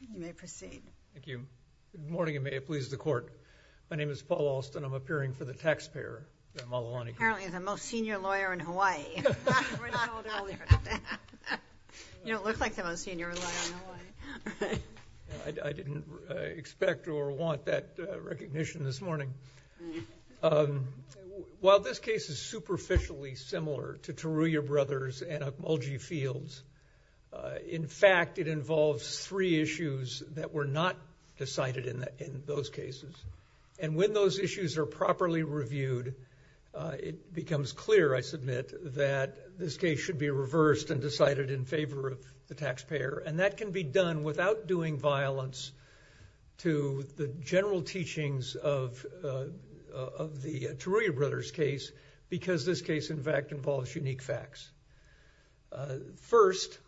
You may proceed. Thank you. Good morning and may it please the court. My name is Paul Alston. I'm appearing for the taxpayer at Malulani Group. Apparently the most senior lawyer in Hawaii. You don't look like the most senior lawyer in Hawaii. I didn't expect or want that recognition this morning. While this case is superficially similar to Taruya Brothers and Okmulgee Fields, in fact, it involves three issues that were not decided in those cases. And when those issues are properly reviewed, it becomes clear, I submit, that this case should be reversed and decided in favor of the taxpayer. And that can be done without doing violence to the general teachings of the Taruya Brothers case, because this case, in fact, involves unique facts. First,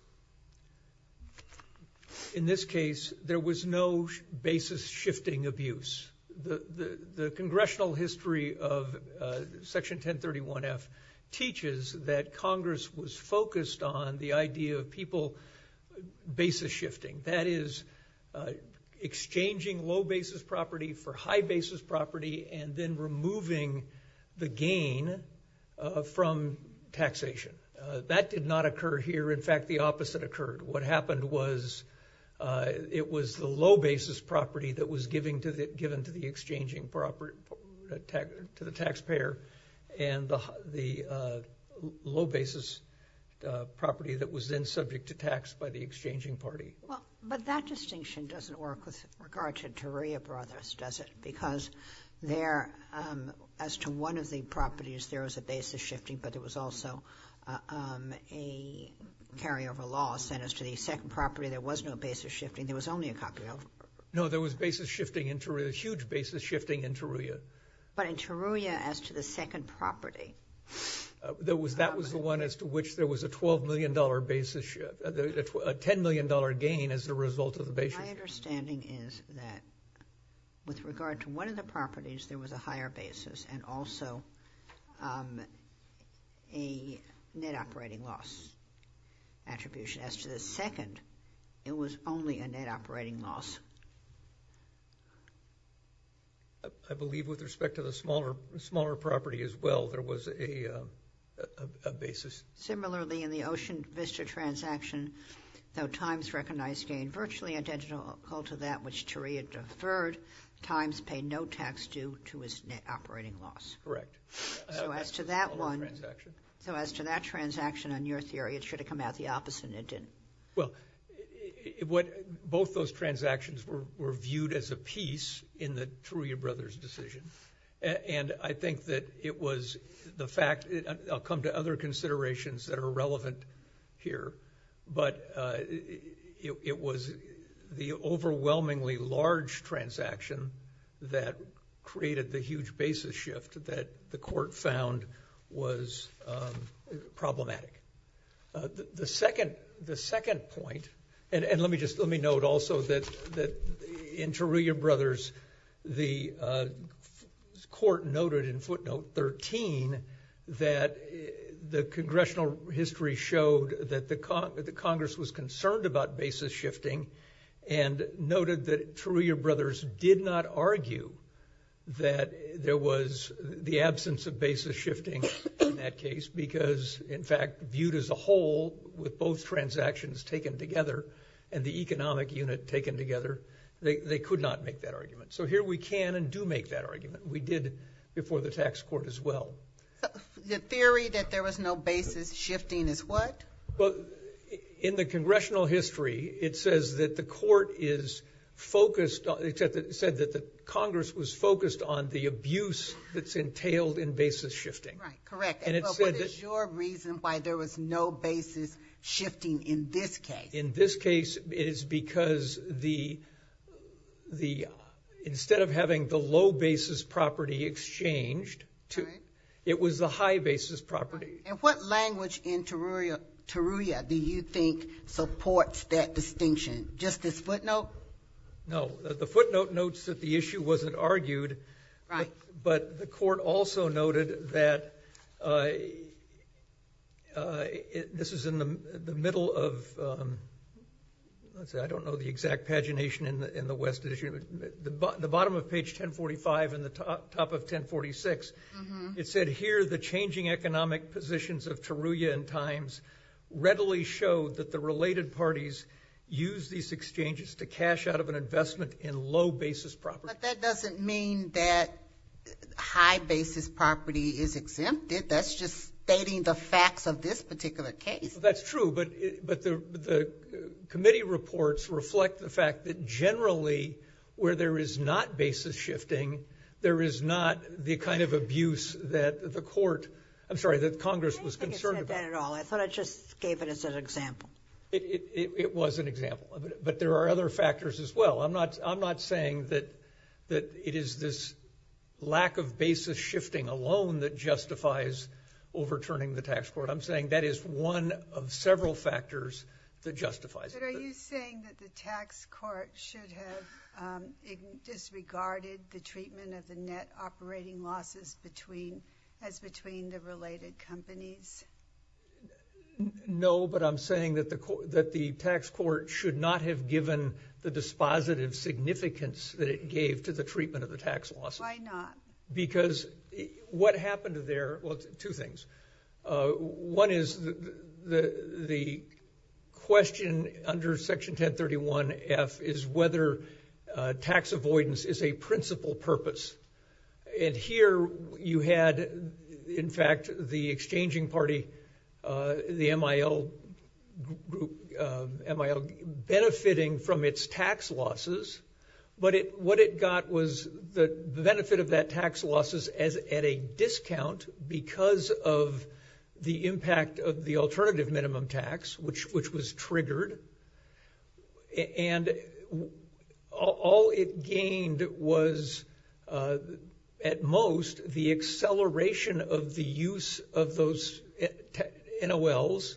in this case, there was no basis-shifting abuse. The congressional history of Section 1031F teaches that Congress was focused on the idea of people basis-shifting. That is, exchanging low basis property for high basis property and then removing the gain from taxation. That did not occur here. In fact, the opposite occurred. What happened was it was the low basis property that was given to the exchanging property, to the taxpayer, and the low basis property that was then subject to tax by the exchanging party. But that distinction doesn't work with regard to Taruya Brothers, does it? Because there, as to one of the properties, there was a basis-shifting, but there was also a carryover loss. And as to the second property, there was no basis-shifting, there was only a copy over. No, there was basis-shifting in Taruya, huge basis-shifting in Taruya. But in Taruya, as to the second property... That was the one as to which there was a $10 million gain as a result of the basis-shifting. My understanding is that with regard to one of the properties, there was a higher basis and also a net operating loss attribution. As to the second, it was only a net operating loss. I believe with respect to the smaller property as well, there was a basis. Similarly, in the Ocean Vista transaction, though Times recognized gain virtually identical to that which Taruya deferred, Times paid no tax due to his net operating loss. Correct. So as to that one, so as to that transaction, on your theory, it should have come out the opposite and it didn't. Well, both those transactions were viewed as a piece in the Taruya brothers' decision. And I think that it was the fact, I'll come to other considerations that are relevant here, but it was the overwhelmingly large transaction that created the huge basis shift that the court found was problematic. The second point, and let me note also that in Taruya brothers, the court noted in footnote 13 that the congressional history showed that the Congress was concerned about basis shifting and noted that Taruya brothers did not argue that there was the absence of basis shifting in that case because, in fact, viewed as a whole with both transactions taken together and the economic unit taken together, they could not make that argument. So here we can and do make that argument. We did before the tax court as well. The theory that there was no basis shifting is what? Well, in the congressional history, it says that the court is focused, said that the Congress was focused on the abuse that's entailed in basis shifting. Right, correct. And what is your reason why there was no basis shifting in this case? In this case, it is because instead of having the low basis property exchanged, it was the high basis property. And what language in Taruya do you think supports that distinction? Just this footnote? No, the footnote notes that the issue wasn't argued, but the court also noted that this is in the middle of, let's see, I don't know the exact pagination in the West Edition, the bottom of page 1045 and the top of 1046. It said here, the changing economic positions of Taruya in times readily showed that the related parties use these exchanges to cash out of an investment in low basis property. But that doesn't mean that high basis property is exempted. That's just stating the facts of this particular case. That's true, but the committee reports reflect the fact that generally, where there is not basis shifting, there is not the kind of abuse that the court, I'm sorry, that Congress was concerned about. I don't think it said that at all. I thought it just gave it as an example. It was an example, but there are other factors as well. I'm not saying that it is this lack of basis shifting alone that justifies overturning the tax court. I'm saying that is one of several factors that justifies it. But are you saying that the tax court should have disregarded the treatment of the net operating losses as between the related companies? No, but I'm saying that the tax court should not have given the dispositive significance that it gave to the treatment of the tax loss. Why not? Because what happened there, well, two things. One is the question under section 1031F is whether tax avoidance is a principal purpose. Here, you had, in fact, the exchanging party, the MIL group benefiting from its tax losses, but what it got was the benefit of that tax losses at a discount because of the impact of the alternative minimum tax, which was triggered. And all it gained was, at most, the acceleration of the use of those NOLs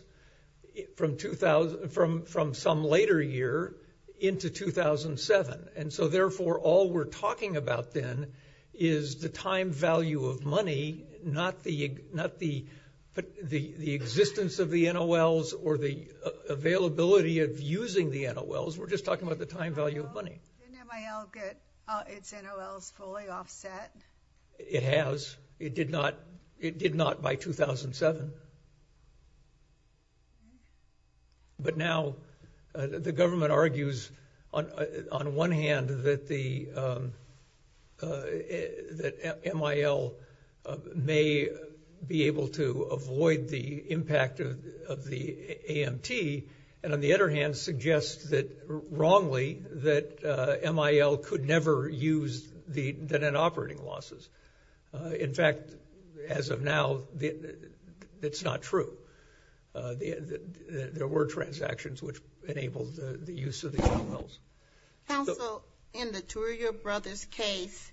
from some later year into 2007. And so, therefore, all we're talking about then is the time value of money, not the existence of the NOLs or the availability of using the NOLs. We're just talking about the time value of money. Didn't MIL get its NOLs fully offset? It has. It did not. It did not by 2007. of the AMT and, on the other hand, suggest that, wrongly, that MIL could never use the operating losses. In fact, as of now, it's not true. There were transactions which enabled the use of the NOLs. Counsel, in the Turia brothers' case,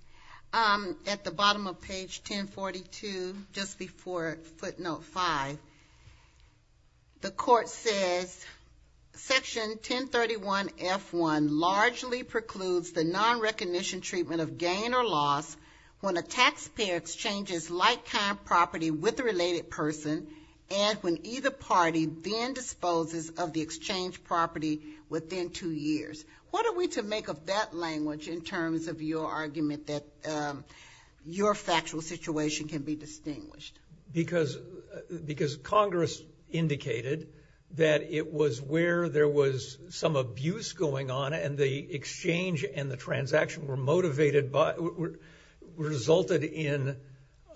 at the bottom of page 1042, just before footnote 5, the court says, Section 1031F1 largely precludes the non-recognition treatment of gain or loss when a taxpayer exchanges like-kind property with a related person and when either party then disposes of the exchanged property within two years. What are we to make of that language in terms of your argument that your factual situation can be distinguished? Because Congress indicated that it was where there was some abuse going on and the exchange and the transaction were motivated by—were resulted in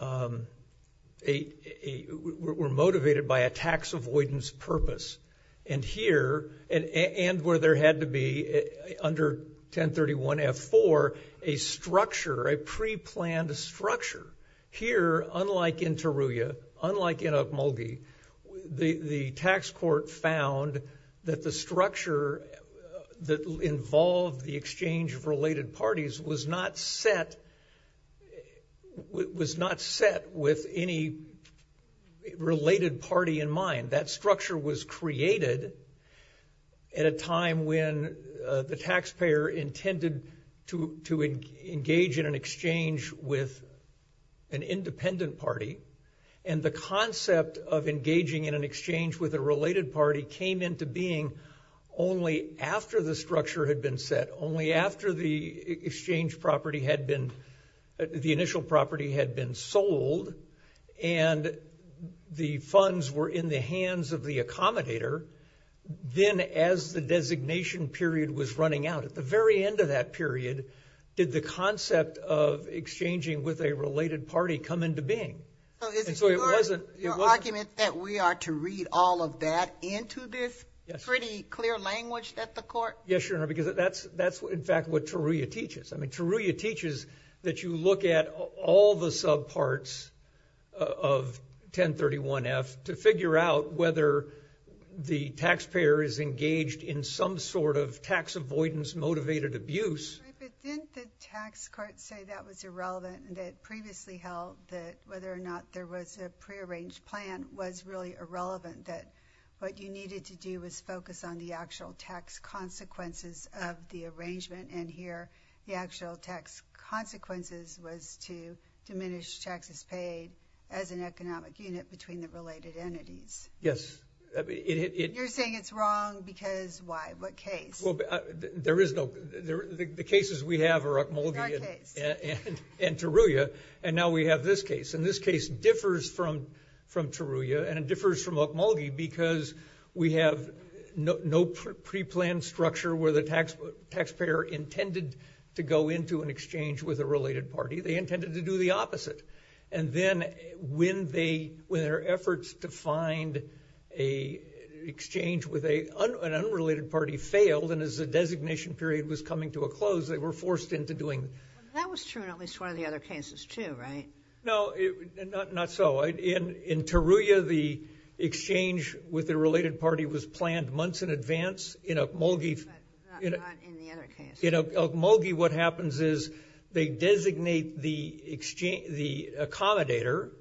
a—were motivated by a tax avoidance purpose and here—and where there had to be, under 1031F4, a structure, a pre-planned structure. Here, unlike in Turia, unlike in Okmulgee, the tax court found that the structure that involved the exchange of related parties was not set—was not set with any related party in mind. That structure was created at a time when the taxpayer intended to engage in an exchange with an independent party and the concept of engaging in an exchange with a related party came into being only after the structure had been set, only after the exchange property had been—the initial property had been sold and the funds were in the hands of the accommodator. Then as the designation period was running out, at the very end of that period, did the concept of exchanging with a related party come into being? And so it wasn't— So is it your argument that we are to read all of that into this pretty clear language that the court— Yes, Your Honor, because that's in fact what Turia teaches. Turia teaches that you look at all the subparts of 1031-F to figure out whether the taxpayer is engaged in some sort of tax avoidance motivated abuse. Right, but didn't the tax court say that was irrelevant and that it previously held that whether or not there was a prearranged plan was really irrelevant, that what you needed to do was focus on the actual tax consequences of the arrangement? And here, the actual tax consequences was to diminish taxes paid as an economic unit between the related entities. Yes, it— You're saying it's wrong because why? What case? There is no—the cases we have are Okmulgee and Turia, and now we have this case. And this case differs from Turia and it differs from Okmulgee because we have no preplanned structure where the taxpayer intended to go into an exchange with a related party. They intended to do the opposite. And then when their efforts to find an exchange with an unrelated party failed and as the designation period was coming to a close, they were forced into doing— That was true in at least one of the other cases too, right? No, not so. In Turia, the exchange with the related party was planned months in advance. In Okmulgee— But not in the other case. In Okmulgee, what happens is they designate the accommodator,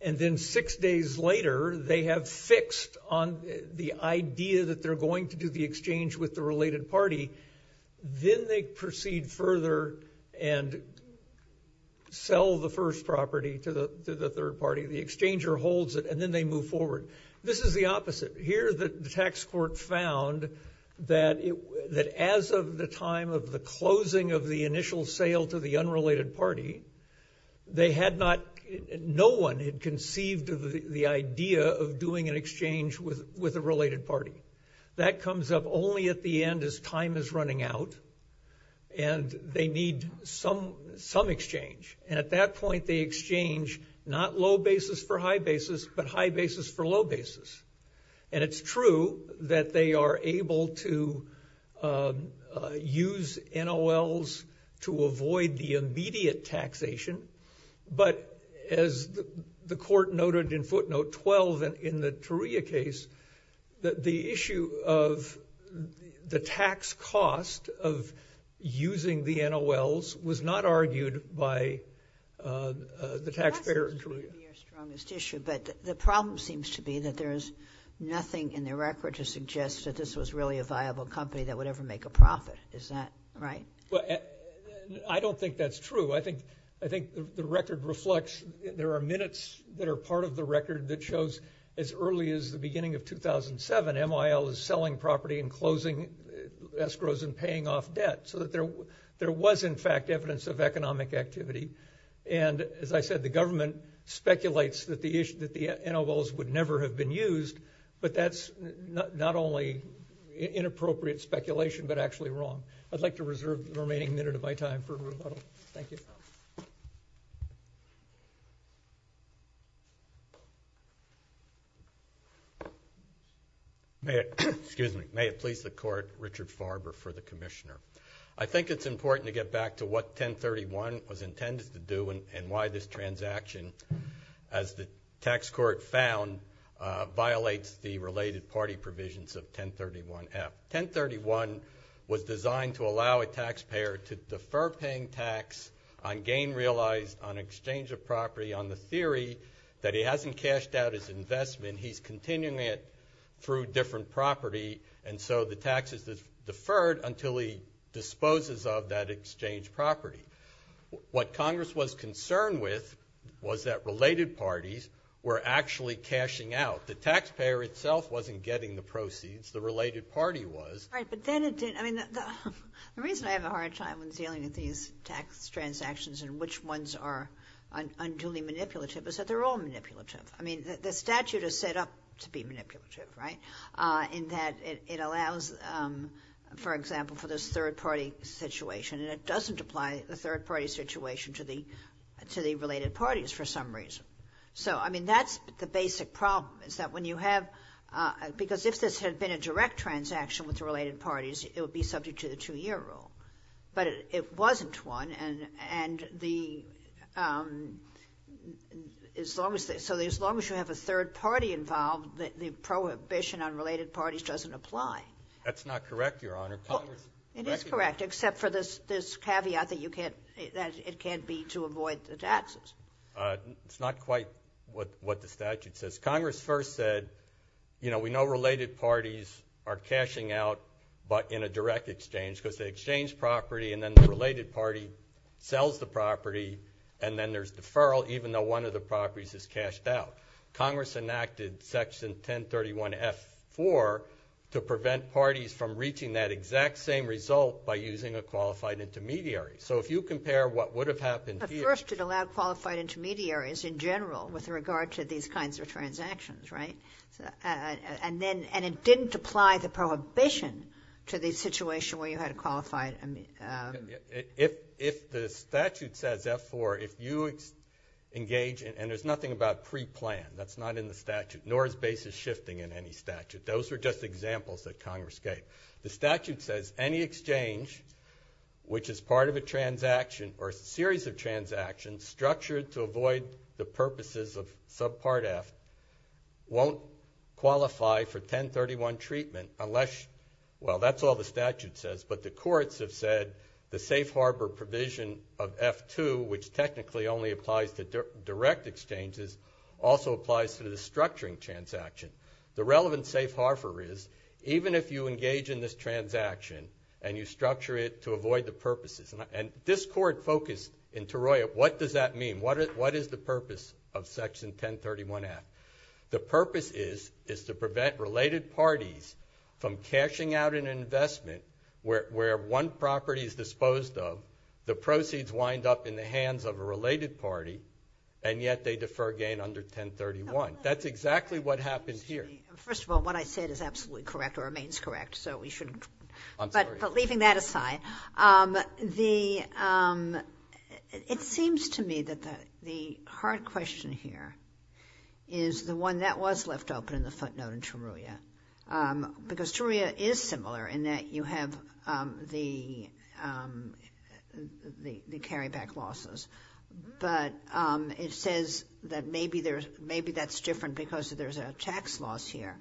and then six days later, they have fixed on the idea that they're going to do the exchange with the related and then they move forward. This is the opposite. Here, the tax court found that as of the time of the closing of the initial sale to the unrelated party, they had not—no one had conceived the idea of doing an exchange with a related party. That comes up only at the end as time is running out and they need some exchange. And at that point, they exchange not low basis for high basis, but high basis for low basis. And it's true that they are able to use NOLs to avoid the immediate taxation, but as the court noted in footnote 12 in the Turia case, the issue of the tax cost of using the NOLs was not argued by the taxpayer in Turia. That seems to be your strongest issue, but the problem seems to be that there is nothing in the record to suggest that this was really a viable company that would ever make a profit. Is that right? Well, I don't think that's true. I think the record reflects—there are minutes that are part of the record that shows as early as the beginning of 2007, NOL is selling property and closing escrows and paying off debt so that there was, in fact, evidence of economic activity. And as I said, the government speculates that the NOLs would never have been used, but that's not only inappropriate speculation, but actually wrong. I'd like to reserve the remaining minute of my time for rebuttal. Thank you. May it please the Court, Richard Farber for the Commissioner. I think it's important to get back to what 1031 was intended to do and why this transaction, as the tax court found, violates the related party provisions of 1031F. 1031 was designed to allow a taxpayer to defer paying tax on gain realized on exchange of property on the theory that he hasn't cashed out his investment, he's continuing it through different property, and so the tax is deferred until he disposes of that exchange property. What Congress was concerned with was that related parties were actually cashing out. The taxpayer itself wasn't getting the proceeds, the related party was. Right, but then it didn't, I mean, the reason I have a hard time when dealing with these tax transactions and which ones are unduly manipulative is that they're all manipulative. I mean, the statute is set up to be manipulative, right? In that it allows, for example, for this third-party situation, and it doesn't apply the third-party situation to the related parties for some reason. So, I mean, that's the basic problem, is that when you have, because if this had been a direct transaction with the related parties, it would be subject to the two-year rule, but it wasn't one, and the, as long as, so as long as you have a third-party involved, the prohibition on related parties doesn't apply. That's not correct, Your Honor. Well, it is correct, except for this caveat that you can't, that it can't be to avoid the taxes. It's not quite what the statute says. Congress first said, you know, we know related parties are cashing out, but in a direct exchange, because they exchange property, and then the related party sells the property, and then there's deferral, even though one of the properties is cashed out. Congress enacted Section 1031F4 to prevent parties from reaching that exact same result by using a qualified intermediary. So if you compare what would have happened here— First, it allowed qualified intermediaries in general, with regard to these kinds of transactions, right? And then, and it didn't apply the prohibition to the situation where you had a qualified— If the statute says F4, if you engage, and there's nothing about pre-plan, that's not in the statute, nor is basis shifting in any statute. Those are just examples that Congress gave. The statute says any exchange, which is part of a transaction, or a series of transactions, structured to avoid the purposes of Subpart F, won't qualify for 1031 treatment unless— Well, that's all the statute says, but the courts have said the safe harbor provision of F2, which technically only applies to direct exchanges, also applies to the structuring transaction. The relevant safe harbor is, even if you engage in this transaction, and you structure it to avoid the purposes, and this court focused in Taroya, what does that mean? What is the purpose of Section 1031F? The purpose is to prevent related parties from cashing out an investment where one property is disposed of, the proceeds wind up in the hands of a related party, and yet they defer gain under 1031. That's exactly what happened here. First of all, what I said is absolutely correct or remains correct, so we shouldn't— I'm sorry. But leaving that aside, it seems to me that the hard question here is the one that was left open in the footnote in Taroya, because Taroya is similar in that you have the carryback losses, but it says that maybe that's different because there's a tax loss here.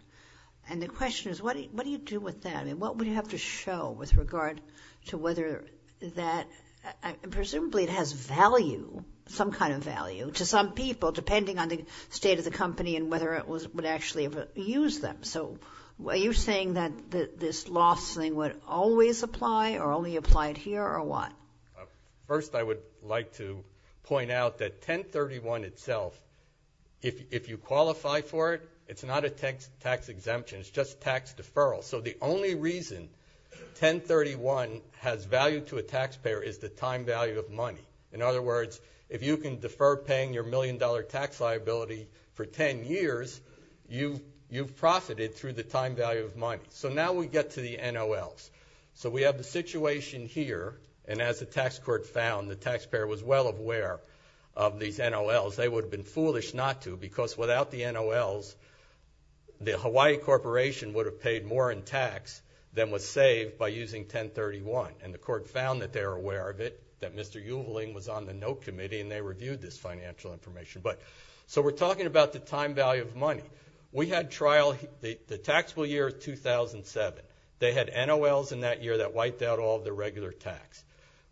And the question is, what do you do with that? I mean, what would you have to show with regard to whether that— Presumably, it has value, some kind of value to some people, depending on the state of the company and whether it would actually use them. So, are you saying that this loss thing would always apply or only apply here or what? First, I would like to point out that 1031 itself, if you qualify for it, it's not a tax exemption. It's just tax deferral. So, the only reason 1031 has value to a taxpayer is the time value of money. In other words, if you can defer paying your million-dollar tax liability for 10 years, you've profited through the time value of money. So, now we get to the NOLs. We have the situation here, and as the tax court found, the taxpayer was well aware of these NOLs. They would have been foolish not to because without the NOLs, the Hawaii Corporation would have paid more in tax than was saved by using 1031. And the court found that they were aware of it, that Mr. Uehling was on the note committee, and they reviewed this financial information. So, we're talking about the time value of money. We had trial—the taxable year is 2007. They had NOLs in that year that wiped out all the regular tax.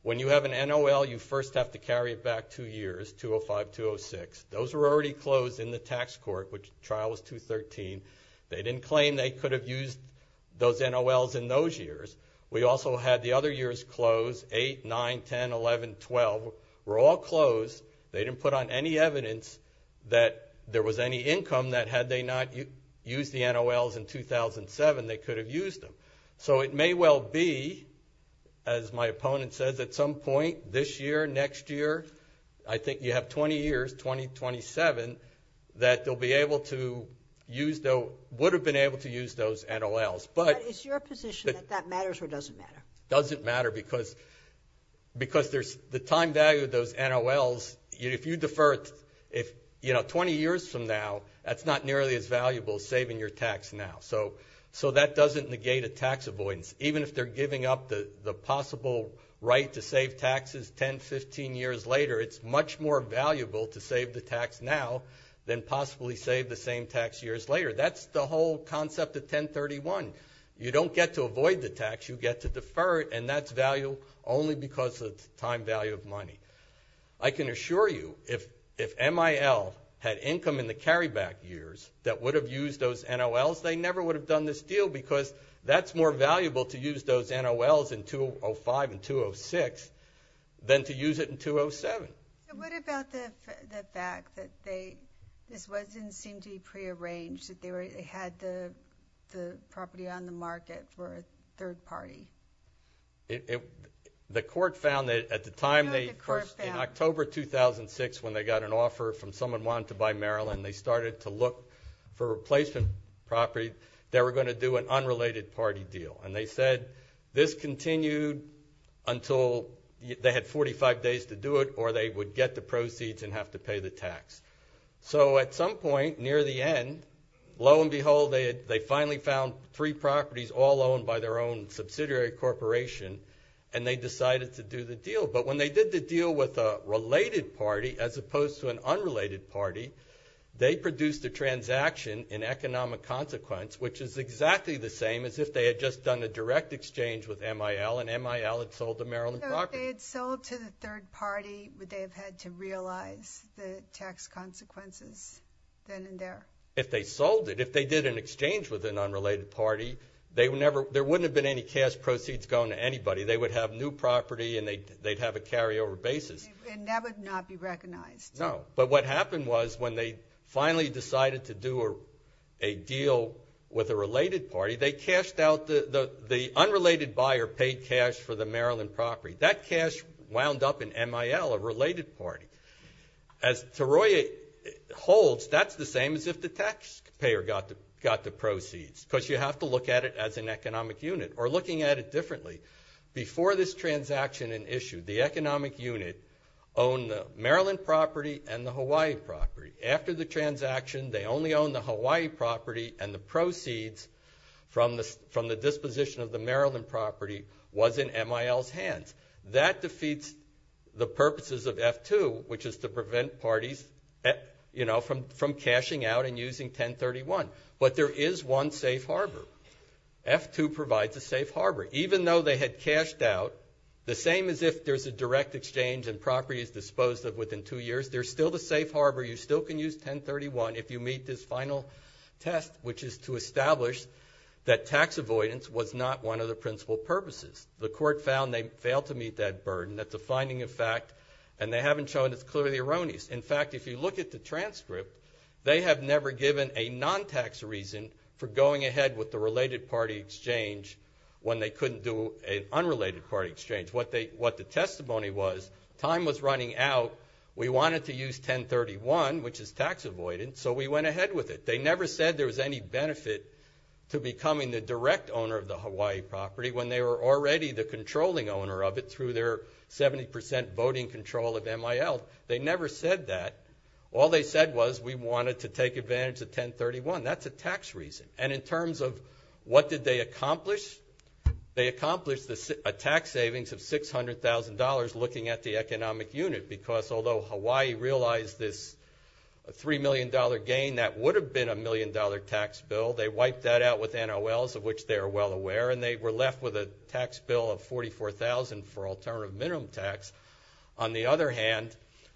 When you have an NOL, you first have to carry it back two years, 2005-2006. Those were already closed in the tax court, which trial was 2013. They didn't claim they could have used those NOLs in those years. We also had the other years closed, 8, 9, 10, 11, 12, were all closed. They didn't put on any evidence that there was any income that had they not used the NOLs in 2007, they could have used them. So, it may well be, as my opponent says, at some point this year, next year, I think you have 20 years, 2027, that they'll be able to use those— would have been able to use those NOLs, but— Is your position that that matters or doesn't matter? Doesn't matter because there's the time value of those NOLs. If you defer it, you know, 20 years from now, that's not nearly as valuable as saving your tax now. So, that doesn't negate a tax avoidance. Even if they're giving up the possible right to save taxes 10, 15 years later, it's much more valuable to save the tax now than possibly save the same tax years later. That's the whole concept of 1031. You don't get to avoid the tax, you get to defer it, and that's value only because of time value of money. I can assure you, if MIL had income in the carryback years that would have used those NOLs, they never would have done this deal because that's more valuable to use those NOLs in 2005 and 2006 than to use it in 2007. And what about the fact that they— this wasn't seemed to be prearranged, that they had the property on the market for a third party? It—the court found that at the time they— No, the court found— In October 2006, when they got an offer from someone wanting to buy Maryland, they started to look for replacement property. They were going to do an unrelated party deal. And they said this continued until they had 45 days to do it or they would get the proceeds and have to pay the tax. So, at some point near the end, lo and behold, they finally found three properties all owned by their own subsidiary corporation and they decided to do the deal. But when they did the deal with a related party as opposed to an unrelated party, they produced a transaction in economic consequence, which is exactly the same as if they had just done a direct exchange with MIL and MIL had sold the Maryland property. If they had sold to the third party, would they have had to realize the tax consequences then and there? If they sold it, if they did an exchange with an unrelated party, they would never— there wouldn't have been any cash proceeds going to anybody. They would have new property and they'd have a carryover basis. And that would not be recognized? No. But what happened was when they finally decided to do a deal with a related party, they cashed out—the unrelated buyer paid cash for the Maryland property. That cash wound up in MIL, a related party. As Taroya holds, that's the same as if the taxpayer got the proceeds because you have to look at it as an economic unit. Or looking at it differently, before this transaction and issue, the economic unit owned the Maryland property and the Hawaii property. After the transaction, they only owned the Hawaii property and the proceeds from the disposition of the Maryland property was in MIL's hands. That defeats the purposes of F-2, which is to prevent parties from cashing out and using 1031. But there is one safe harbor. F-2 provides a safe harbor. Even though they had cashed out, the same as if there's a direct exchange and property is disposed of within two years, there's still the safe harbor. You still can use 1031 if you meet this final test, which is to establish that tax avoidance was not one of the principal purposes. The court found they failed to meet that burden. That's a finding of fact. And they haven't shown it's clearly erroneous. In fact, if you look at the transcript, they have never given a non-tax reason for going ahead with the related party exchange when they couldn't do an unrelated party exchange. What the testimony was, time was running out, we wanted to use 1031, which is tax avoidance, so we went ahead with it. They never said there was any benefit to becoming the direct owner of the Hawaii property when they were already the controlling owner of it through their 70% voting control of MIL. They never said that. All they said was we wanted to take advantage of 1031. That's a tax reason. And in terms of what did they accomplish, they accomplished a tax savings of $600,000 looking at the economic unit, because although Hawaii realized this $3 million gain, that would have been a million-dollar tax bill, they wiped that out with NOLs, of which they are well aware, and they were left with a tax bill of $44,000 for alternative minimum tax. On the other hand,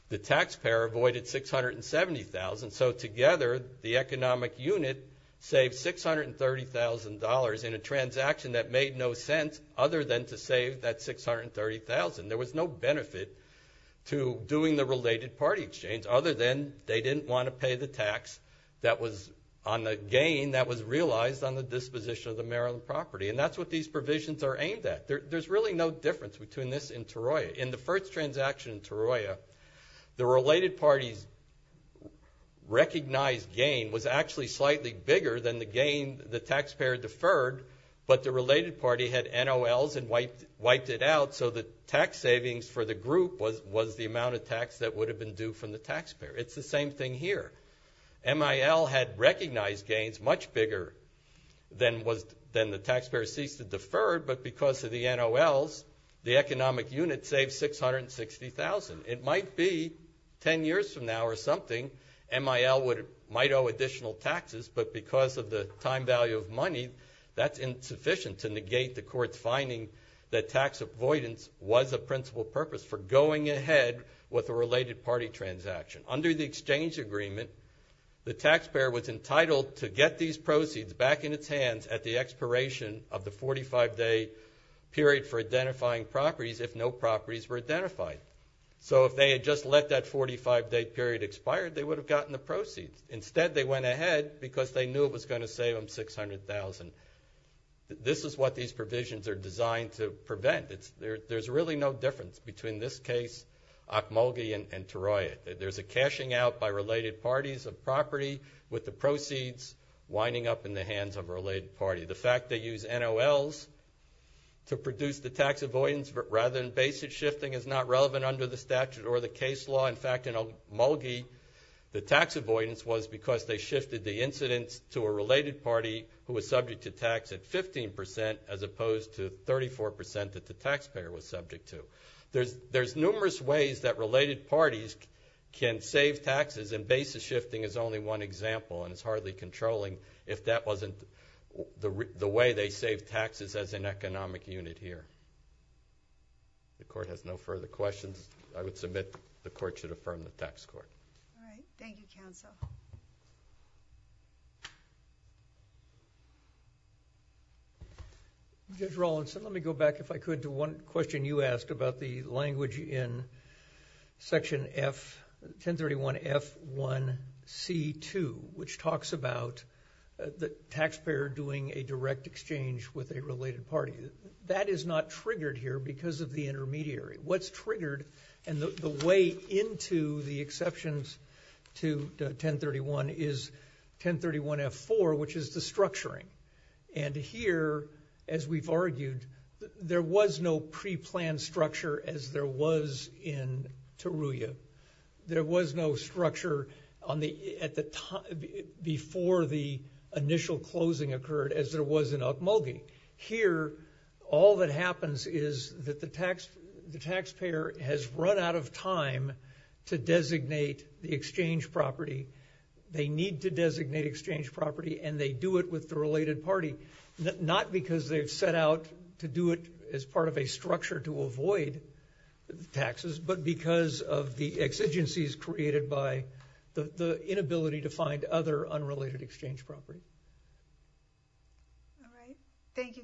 the taxpayer avoided $670,000. So together, the economic unit saved $630,000 in a transaction that made no sense other than to save that $630,000. There was no benefit to doing the related party exchange other than they didn't want to pay the tax that was on the gain that was realized on the disposition of the Maryland property. And that's what these provisions are aimed at. There's really no difference between this and Taroya. In the first transaction in Taroya, the related party's recognized gain was actually slightly bigger than the gain the taxpayer deferred, but the related party had NOLs and wiped it out, so the tax savings for the group was the amount of tax that would have been due from the taxpayer. It's the same thing here. MIL had recognized gains much bigger than the taxpayer ceased to defer, but because of the NOLs, the economic unit saved $660,000. It might be 10 years from now or something, MIL might owe additional taxes, but because of the time value of money, that's insufficient to negate the court's finding that tax avoidance was a principal purpose for going ahead with a related party transaction. Under the exchange agreement, the taxpayer was entitled to get these proceeds back in its hands at the expiration of the 45-day period for identifying properties if no properties were identified. So if they had just let that 45-day period expire, they would have gotten the proceeds. Instead, they went ahead because they knew it was going to save them $600,000. This is what these provisions are designed to prevent. There's really no difference between this case, Akmolgi, and Taroya. There's a cashing out by related parties of property with the proceeds winding up in the hands of a related party. The fact they use NOLs to produce the tax avoidance rather than basic shifting is not relevant under the statute or the case law. In fact, in Akmolgi, the tax avoidance was because they shifted the incidence to a related party who was subject to tax at 15% as opposed to 34% that the taxpayer was subject to. There's numerous ways that related parties can save taxes and basis shifting is only one example and it's hardly controlling if that wasn't the way they save taxes as an economic unit here. The court has no further questions. I would submit the court should affirm the tax court. All right. Thank you, counsel. Judge Rawlinson, let me go back, if I could, to one question you asked about the language in section 1031F1C2, which talks about the taxpayer doing a direct exchange with a related party. That is not triggered here because of the intermediary. What's triggered and the way into the exceptions to 1031 is 1031F4, which is the structuring. And here, as we've argued, there was no preplanned structure as there was in Teruya. There was no structure before the initial closing occurred as there was in Okmulgee. Here, all that happens is that the taxpayer has run out of time to designate the exchange property. They need to designate exchange property and they do it with the related party, not because they've set out to do it as part of a structure to avoid taxes, but because of the exigencies created by the inability to find other unrelated exchange property. All right. Thank you, counsel.